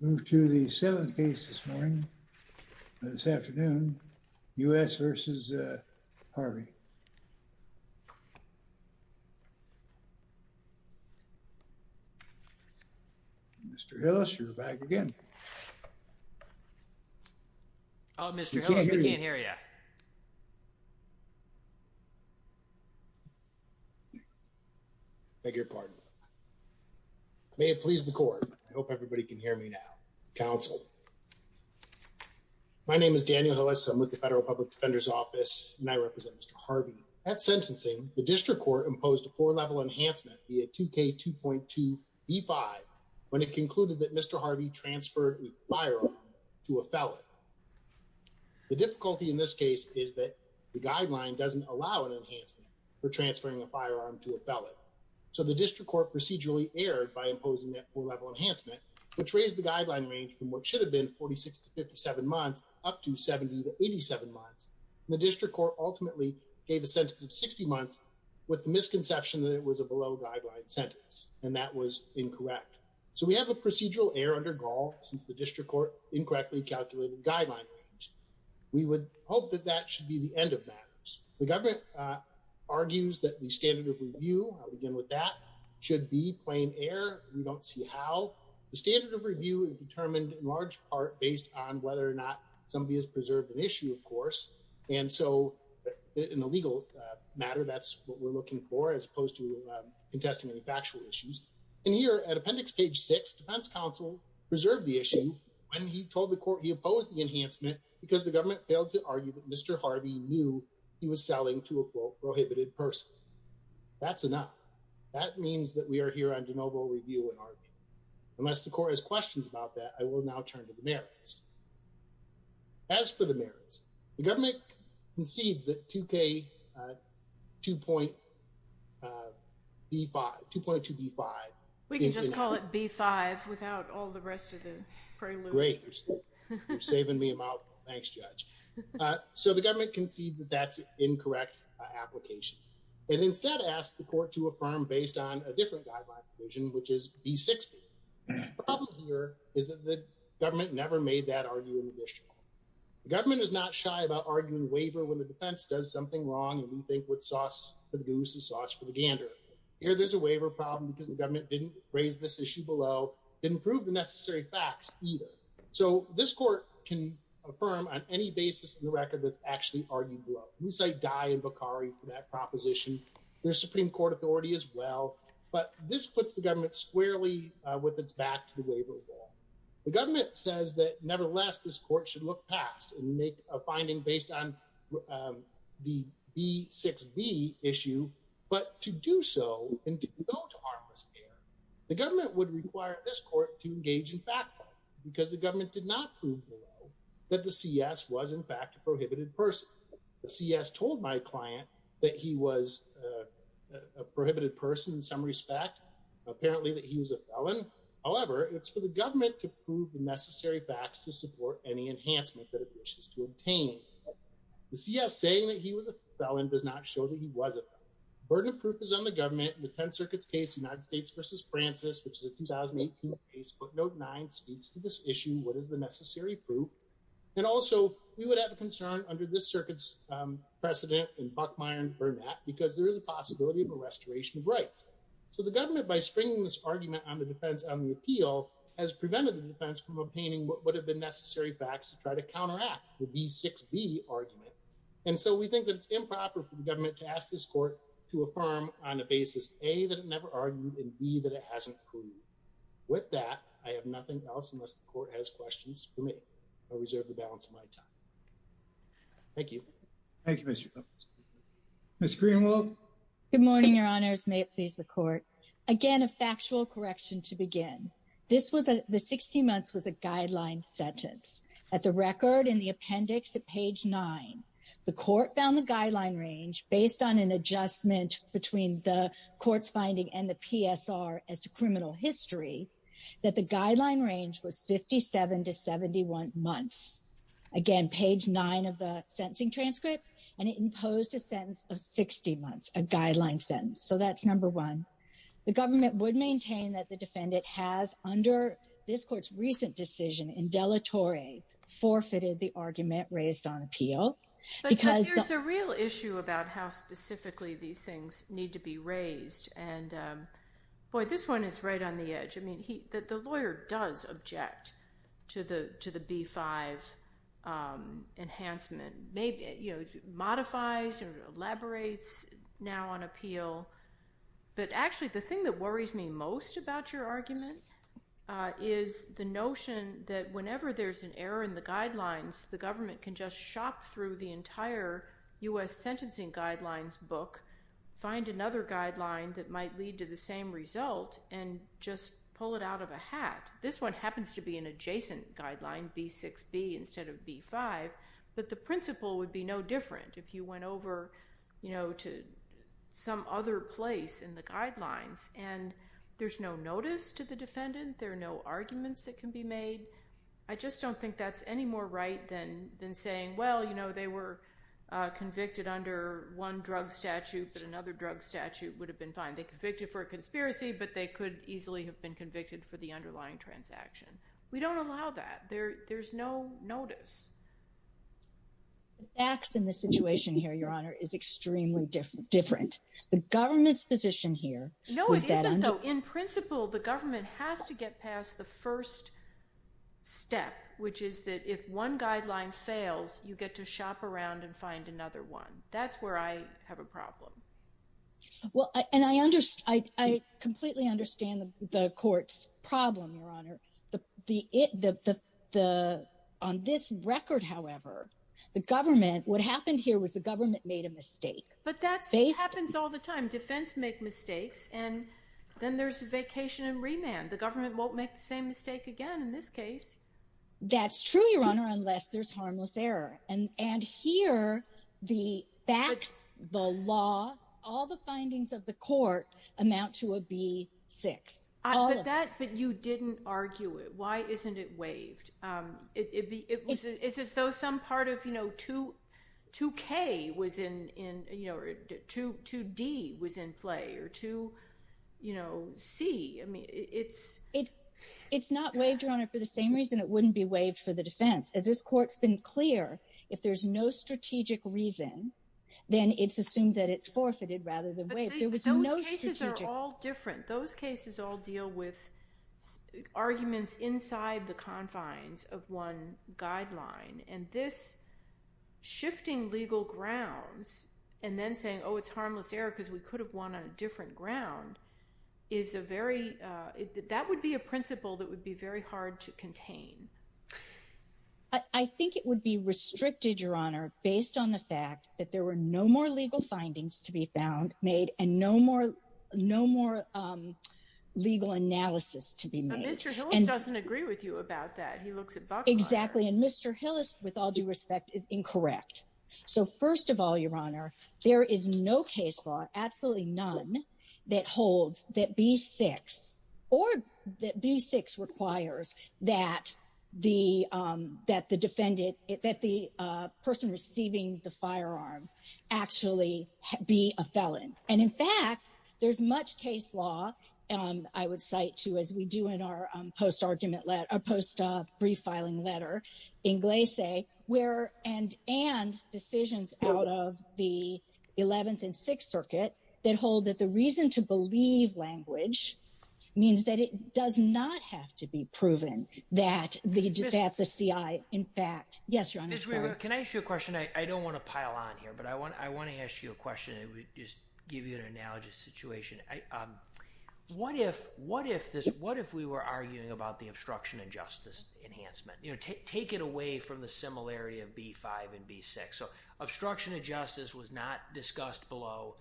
We move to the 7th case this morning, this afternoon, U.S. v. Harvey. Mr. Hillis, you're back again. Oh, Mr. Hillis, we can't hear you. I beg your pardon. May it please the court. I hope everybody can hear me now. Counsel. My name is Daniel Hillis. I'm with the Federal Public Defender's Office, and I represent Mr. Harvey. At sentencing, the district court imposed a four-level enhancement via 2K2.2b5 when it concluded that Mr. Harvey transferred a firearm to a felon. The difficulty in this case is that the guideline doesn't allow an enhancement for transferring a firearm to a felon. So the district court procedurally erred by imposing that four-level enhancement, which raised the guideline range from what should have been 46 to 57 months up to 70 to 87 months. The district court ultimately gave a sentence of 60 months with the misconception that it was a below-guideline sentence, and that was incorrect. So we have a procedural error under Gaul since the district court incorrectly calculated the guideline range. We would hope that that should be the end of matters. The government argues that the standard of review, I'll begin with that, should be plain error. We don't see how. The standard of review is determined in large part based on whether or not somebody has preserved an issue, of course. And so in a legal matter, that's what we're looking for, as opposed to contesting any factual issues. And here at appendix page 6, defense counsel preserved the issue when he told the court he opposed the enhancement because the government failed to argue that Mr. Harvey knew he was selling to a, quote, prohibited person. That's enough. That means that we are here on de novo review and argument. Unless the court has questions about that, I will now turn to the merits. As for the merits, the government concedes that 2K2.B5, 2.2B5. We can just call it B5 without all the rest of the prelude. Great. You're saving me a mouthful. Thanks, Judge. So the government concedes that that's an incorrect application. It instead asked the court to affirm based on a different guideline provision, which is B6B. The problem here is that the government never made that argument in the district court. The government is not shy about arguing waiver when the defense does something wrong and we think what's sauce for the goose is sauce for the gander. Here there's a waiver problem because the government didn't raise this issue below, didn't prove the necessary facts either. So this court can affirm on any basis in the record that's actually argued below. We cite Dye and Bakari for that proposition. There's Supreme Court authority as well. But this puts the government squarely with its back to the waiver law. The government says that nevertheless this court should look past and make a finding based on the B6B issue. But to do so and to go to harmless error, the government would require this court to engage in fact-finding because the government did not prove below that the CS was in fact a prohibited person. The CS told my client that he was a prohibited person in some respect. Apparently that he was a felon. However, it's for the government to prove the necessary facts to support any enhancement that it wishes to obtain. The CS saying that he was a felon does not show that he was a felon. Burden of proof is on the government. The 10th Circuit's case, United States v. Francis, which is a 2018 case, footnote 9, speaks to this issue. What is the necessary proof? And also, we would have a concern under this circuit's precedent in Buckmeyer and Burnett because there is a possibility of a restoration of rights. So the government, by stringing this argument on the defense on the appeal, has prevented the defense from obtaining what would have been necessary facts to try to counteract the B6B argument. And so we think that it's improper for the government to ask this court to affirm on a basis, A, that it never argued, and B, that it hasn't proved. With that, I have nothing else unless the court has questions for me. I reserve the balance of my time. Thank you. Thank you, Mr. Coates. Ms. Greenwald? Good morning, Your Honors. May it please the court. Again, a factual correction to begin. This was a, the 16 months was a guideline sentence. At the record in the appendix at page 9, the court found the guideline range, based on an adjustment between the court's finding and the PSR as to criminal history, that the guideline range was 57 to 71 months. Again, page 9 of the sentencing transcript, and it imposed a sentence of 60 months, a guideline sentence. So that's number one. The government would maintain that the defendant has, under this court's recent decision, indelitory forfeited the argument raised on appeal. But there's a real issue about how specifically these things need to be raised. And boy, this one is right on the edge. I mean, the lawyer does object to the B5 enhancement. It modifies or elaborates now on appeal. But actually, the thing that worries me most about your argument is the notion that whenever there's an error in the guidelines, the government can just shop through the entire U.S. sentencing guidelines book, find another guideline that might lead to the same result, and just pull it out of a hat. This one happens to be an adjacent guideline, B6B, instead of B5. But the principle would be no different if you went over to some other place in the guidelines. And there's no notice to the defendant. There are no arguments that can be made. I just don't think that's any more right than saying, well, they were convicted under one drug statute, but another drug statute would have been fine. They were convicted for a conspiracy, but they could easily have been convicted for the underlying transaction. We don't allow that. There's no notice. The facts in this situation here, Your Honor, is extremely different. The government's position here is that— No, it isn't, though. In principle, the government has to get past the first step, which is that if one guideline fails, you get to shop around and find another one. That's where I have a problem. Well, and I completely understand the court's problem, Your Honor. On this record, however, the government—what happened here was the government made a mistake. But that happens all the time. Defense make mistakes, and then there's vacation and remand. The government won't make the same mistake again in this case. That's true, Your Honor, unless there's harmless error. And here, the facts, the law, all the findings of the court amount to a B-6. But you didn't argue it. Why isn't it waived? It's as though some part of 2K was in—2D was in play or 2C. It's not waived, Your Honor, for the same reason it wouldn't be waived for the defense. As this court's been clear, if there's no strategic reason, then it's assumed that it's forfeited rather than waived. There was no strategic— But those cases are all different. Those cases all deal with arguments inside the confines of one guideline. And this shifting legal grounds and then saying, oh, it's harmless error because we could have won on a different ground, is a very—that would be a principle that would be very hard to contain. I think it would be restricted, Your Honor, based on the fact that there were no more legal findings to be found, made, and no more legal analysis to be made. But Mr. Hillis doesn't agree with you about that. He looks at Buckler. Exactly. And Mr. Hillis, with all due respect, is incorrect. So first of all, Your Honor, there is no case law, absolutely none, that holds that B-6 or that B-6 requires that the defendant—that the person receiving the firearm actually be a felon. And in fact, there's much case law, I would cite, too, as we do in our post-argument—post-brief filing letter in Glace, where—and decisions out of the 11th and 6th Circuit that hold that the reason to believe language means that it does not have to be proven that the C.I. in fact— Ms. Rivera, can I ask you a question? I don't want to pile on here, but I want to ask you a question and just give you an analogous situation. What if this—what if we were arguing about the obstruction of justice enhancement? Take it away from the similarity of B-5 and B-6. So obstruction of justice was not discussed below,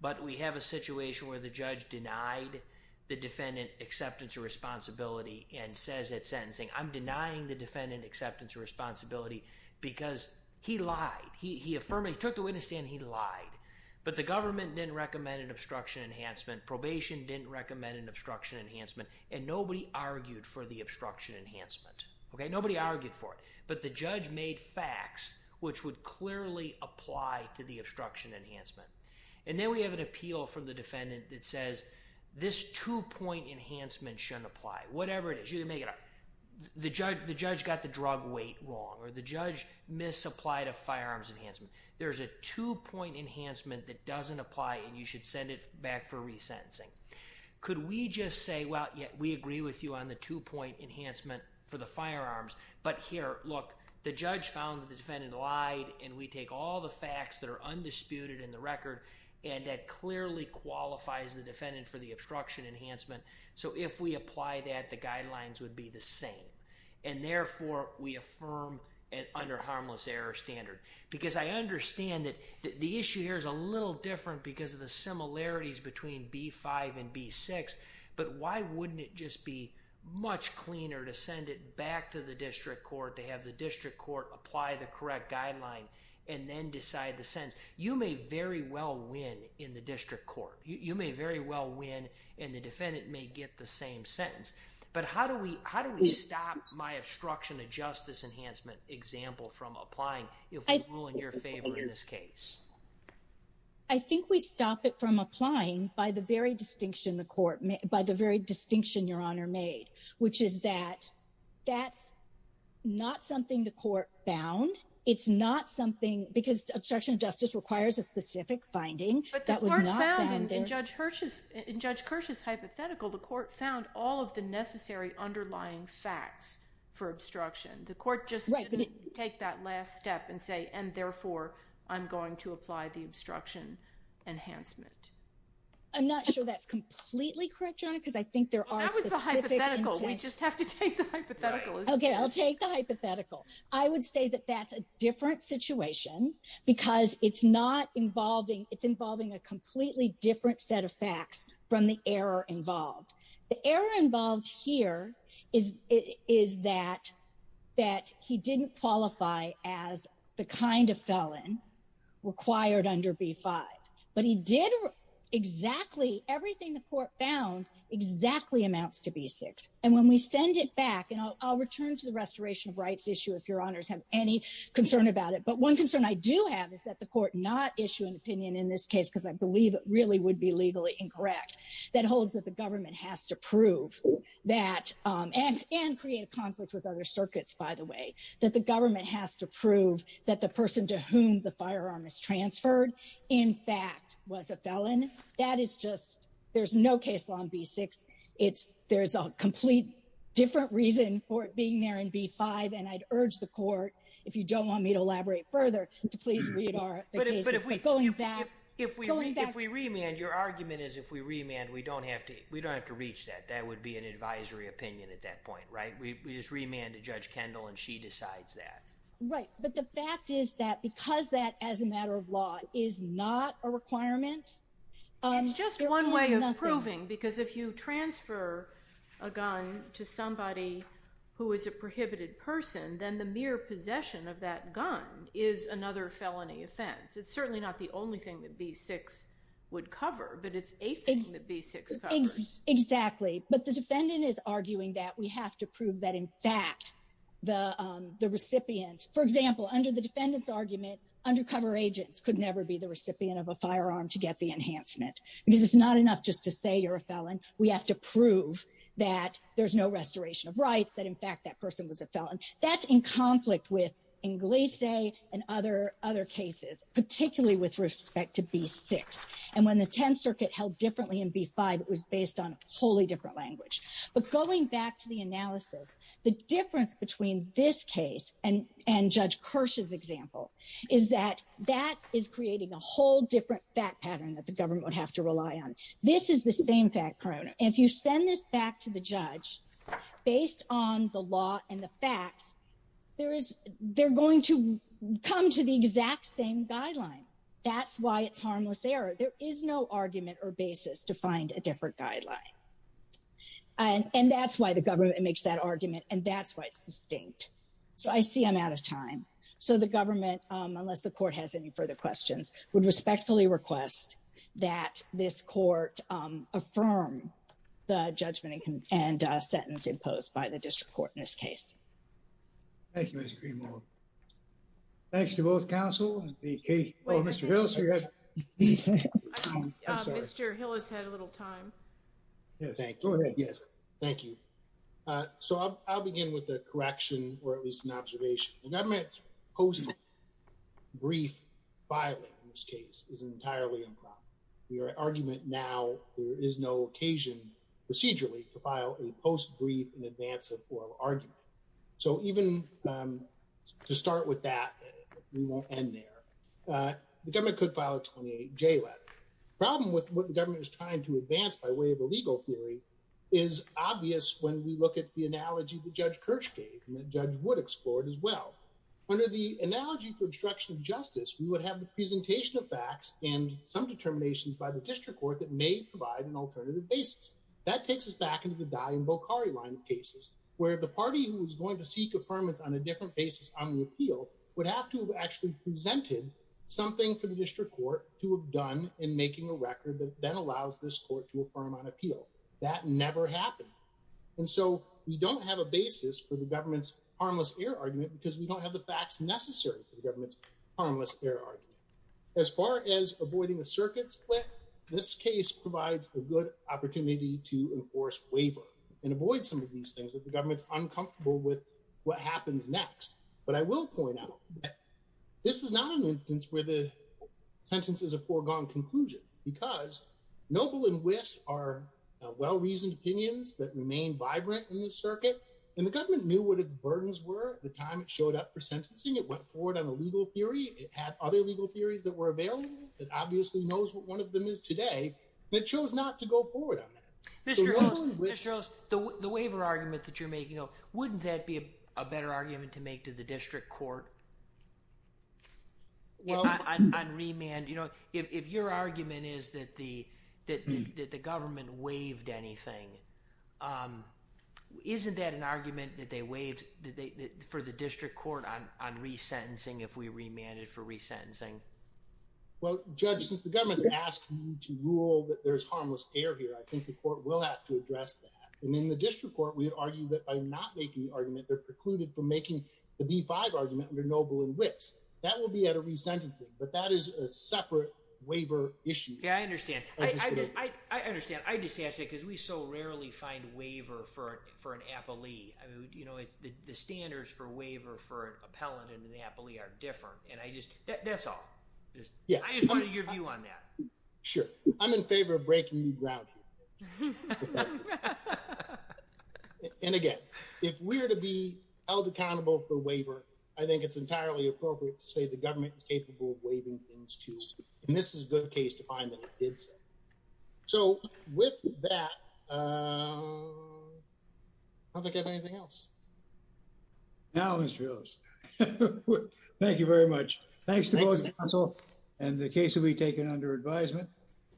but we have a situation where the judge denied the defendant acceptance of responsibility and says at sentencing, I'm denying the defendant acceptance of responsibility because he lied. He affirmed it. He took the witness stand. He lied. But the government didn't recommend an obstruction enhancement. Probation didn't recommend an obstruction enhancement. And nobody argued for the obstruction enhancement. Nobody argued for it. But the judge made facts which would clearly apply to the obstruction enhancement. And then we have an appeal from the defendant that says this two-point enhancement shouldn't apply. Whatever it is, you can make it up. The judge got the drug weight wrong or the judge misapplied a firearms enhancement. There's a two-point enhancement that doesn't apply and you should send it back for resentencing. Could we just say, well, yeah, we agree with you on the two-point enhancement for the firearms. But here, look, the judge found that the defendant lied and we take all the facts that are undisputed in the record and that clearly qualifies the defendant for the obstruction enhancement. So if we apply that, the guidelines would be the same. And therefore, we affirm under harmless error standard. Because I understand that the issue here is a little different because of the similarities between B-5 and B-6. But why wouldn't it just be much cleaner to send it back to the district court to have the district court apply the correct guideline and then decide the sentence? You may very well win in the district court. You may very well win and the defendant may get the same sentence. But how do we stop my obstruction of justice enhancement example from applying if we rule in your favor in this case? I think we stop it from applying by the very distinction the court made, by the very distinction Your Honor made, which is that that's not something the court found. It's not something because obstruction of justice requires a specific finding. But the court found in Judge Kirsch's hypothetical, the court found all of the necessary underlying facts for obstruction. The court just didn't take that last step and say, and therefore, I'm going to apply the obstruction enhancement. I'm not sure that's completely correct, Your Honor, because I think there are specific intentions. That was the hypothetical. We just have to take the hypothetical. Okay, I'll take the hypothetical. I would say that that's a different situation because it's not involving, it's involving a completely different set of facts from the error involved. The error involved here is that he didn't qualify as the kind of felon required under B-5. But he did exactly, everything the court found exactly amounts to B-6. And when we send it back, and I'll return to the restoration of rights issue if Your Honors have any concern about it. But one concern I do have is that the court not issue an opinion in this case, because I believe it really would be legally incorrect, that holds that the government has to prove that, and create a conflict with other circuits, by the way, that the government has to prove that the person to whom the firearm is transferred, in fact, was a felon. That is just, there's no case on B-6. There's a complete different reason for it being there in B-5. And I'd urge the court, if you don't want me to elaborate further, to please read our cases. But going back, going back. If we remand, your argument is if we remand, we don't have to reach that. That would be an advisory opinion at that point, right? We just remand to Judge Kendall and she decides that. Right, but the fact is that because that, as a matter of law, is not a requirement. It's just one way of proving, because if you transfer a gun to somebody who is a prohibited person, then the mere possession of that gun is another felony offense. It's certainly not the only thing that B-6 would cover, but it's a thing that B-6 covers. Exactly, but the defendant is arguing that we have to prove that, in fact, the recipient, for example, under the defendant's argument, undercover agents could never be the recipient of a firearm to get the enhancement. Because it's not enough just to say you're a felon. We have to prove that there's no restoration of rights, that, in fact, that person was a felon. That's in conflict with Inglise and other cases, particularly with respect to B-6. And when the Tenth Circuit held differently in B-5, it was based on a wholly different language. But going back to the analysis, the difference between this case and Judge Kirsch's example is that that is creating a whole different fact pattern that the government would have to rely on. This is the same fact pattern. And if you send this back to the judge based on the law and the facts, they're going to come to the exact same guideline. That's why it's harmless error. There is no argument or basis to find a different guideline. And that's why the government makes that argument, and that's why it's distinct. So I see I'm out of time. So the government, unless the court has any further questions, would respectfully request that this court affirm the judgment and sentence imposed by the district court in this case. Thank you, Ms. Greenwald. Thanks to both counsel. Mr. Hill has had a little time. Thank you. Thank you. So I'll begin with a correction or at least an observation. The government's post-brief filing in this case is entirely improper. Your argument now, there is no occasion procedurally to file a post-brief in advance of oral argument. So even to start with that, we won't end there. The government could file a 28J letter. The problem with what the government is trying to advance by way of a legal theory is obvious when we look at the analogy that Judge Kirsch gave and that Judge Wood explored as well. Under the analogy for obstruction of justice, we would have the presentation of facts and some determinations by the district court that may provide an alternative basis. That takes us back into the Daly and Bokhari line of cases where the party who is going to seek affirmance on a different basis on the appeal would have to have actually presented something for the district court to have done in making a record that then allows this court to affirm on appeal. That never happened. And so we don't have a basis for the government's harmless error argument because we don't have the facts necessary for the government's harmless error argument. As far as avoiding a circuit split, this case provides a good opportunity to enforce waiver and avoid some of these things that the government's uncomfortable with what happens next. But I will point out that this is not an instance where the sentence is a foregone conclusion because Noble and Wyss are well-reasoned opinions that remain vibrant in the circuit. And the government knew what its burdens were at the time it showed up for sentencing. It went forward on a legal theory. It had other legal theories that were available. It obviously knows what one of them is today, but it chose not to go forward on that. Mr. Oost, the waiver argument that you're making, wouldn't that be a better argument to make to the district court on remand? If your argument is that the government waived anything, isn't that an argument that they waived for the district court on resentencing if we remanded for resentencing? Well, Judge, since the government's asking to rule that there's harmless error here, I think the court will have to address that. And in the district court, we argue that by not making the argument, they're precluded from making the B-5 argument under Noble and Wyss. That would be out of resentencing, but that is a separate waiver issue. Yeah, I understand. I understand. I just ask that because we so rarely find waiver for an appellee. I mean, you know, the standards for waiver for an appellant and an appellee are different. And I just, that's all. I just wanted your view on that. Sure. I'm in favor of breaking new ground here. And again, if we're to be held accountable for waiver, I think it's entirely appropriate to say the government is capable of waiving things too. And this is a good case to find that it did say. So with that, I don't think I have anything else. Now, Mr. Hills, thank you very much. Thanks to both counsel and the case will be taken under advisement.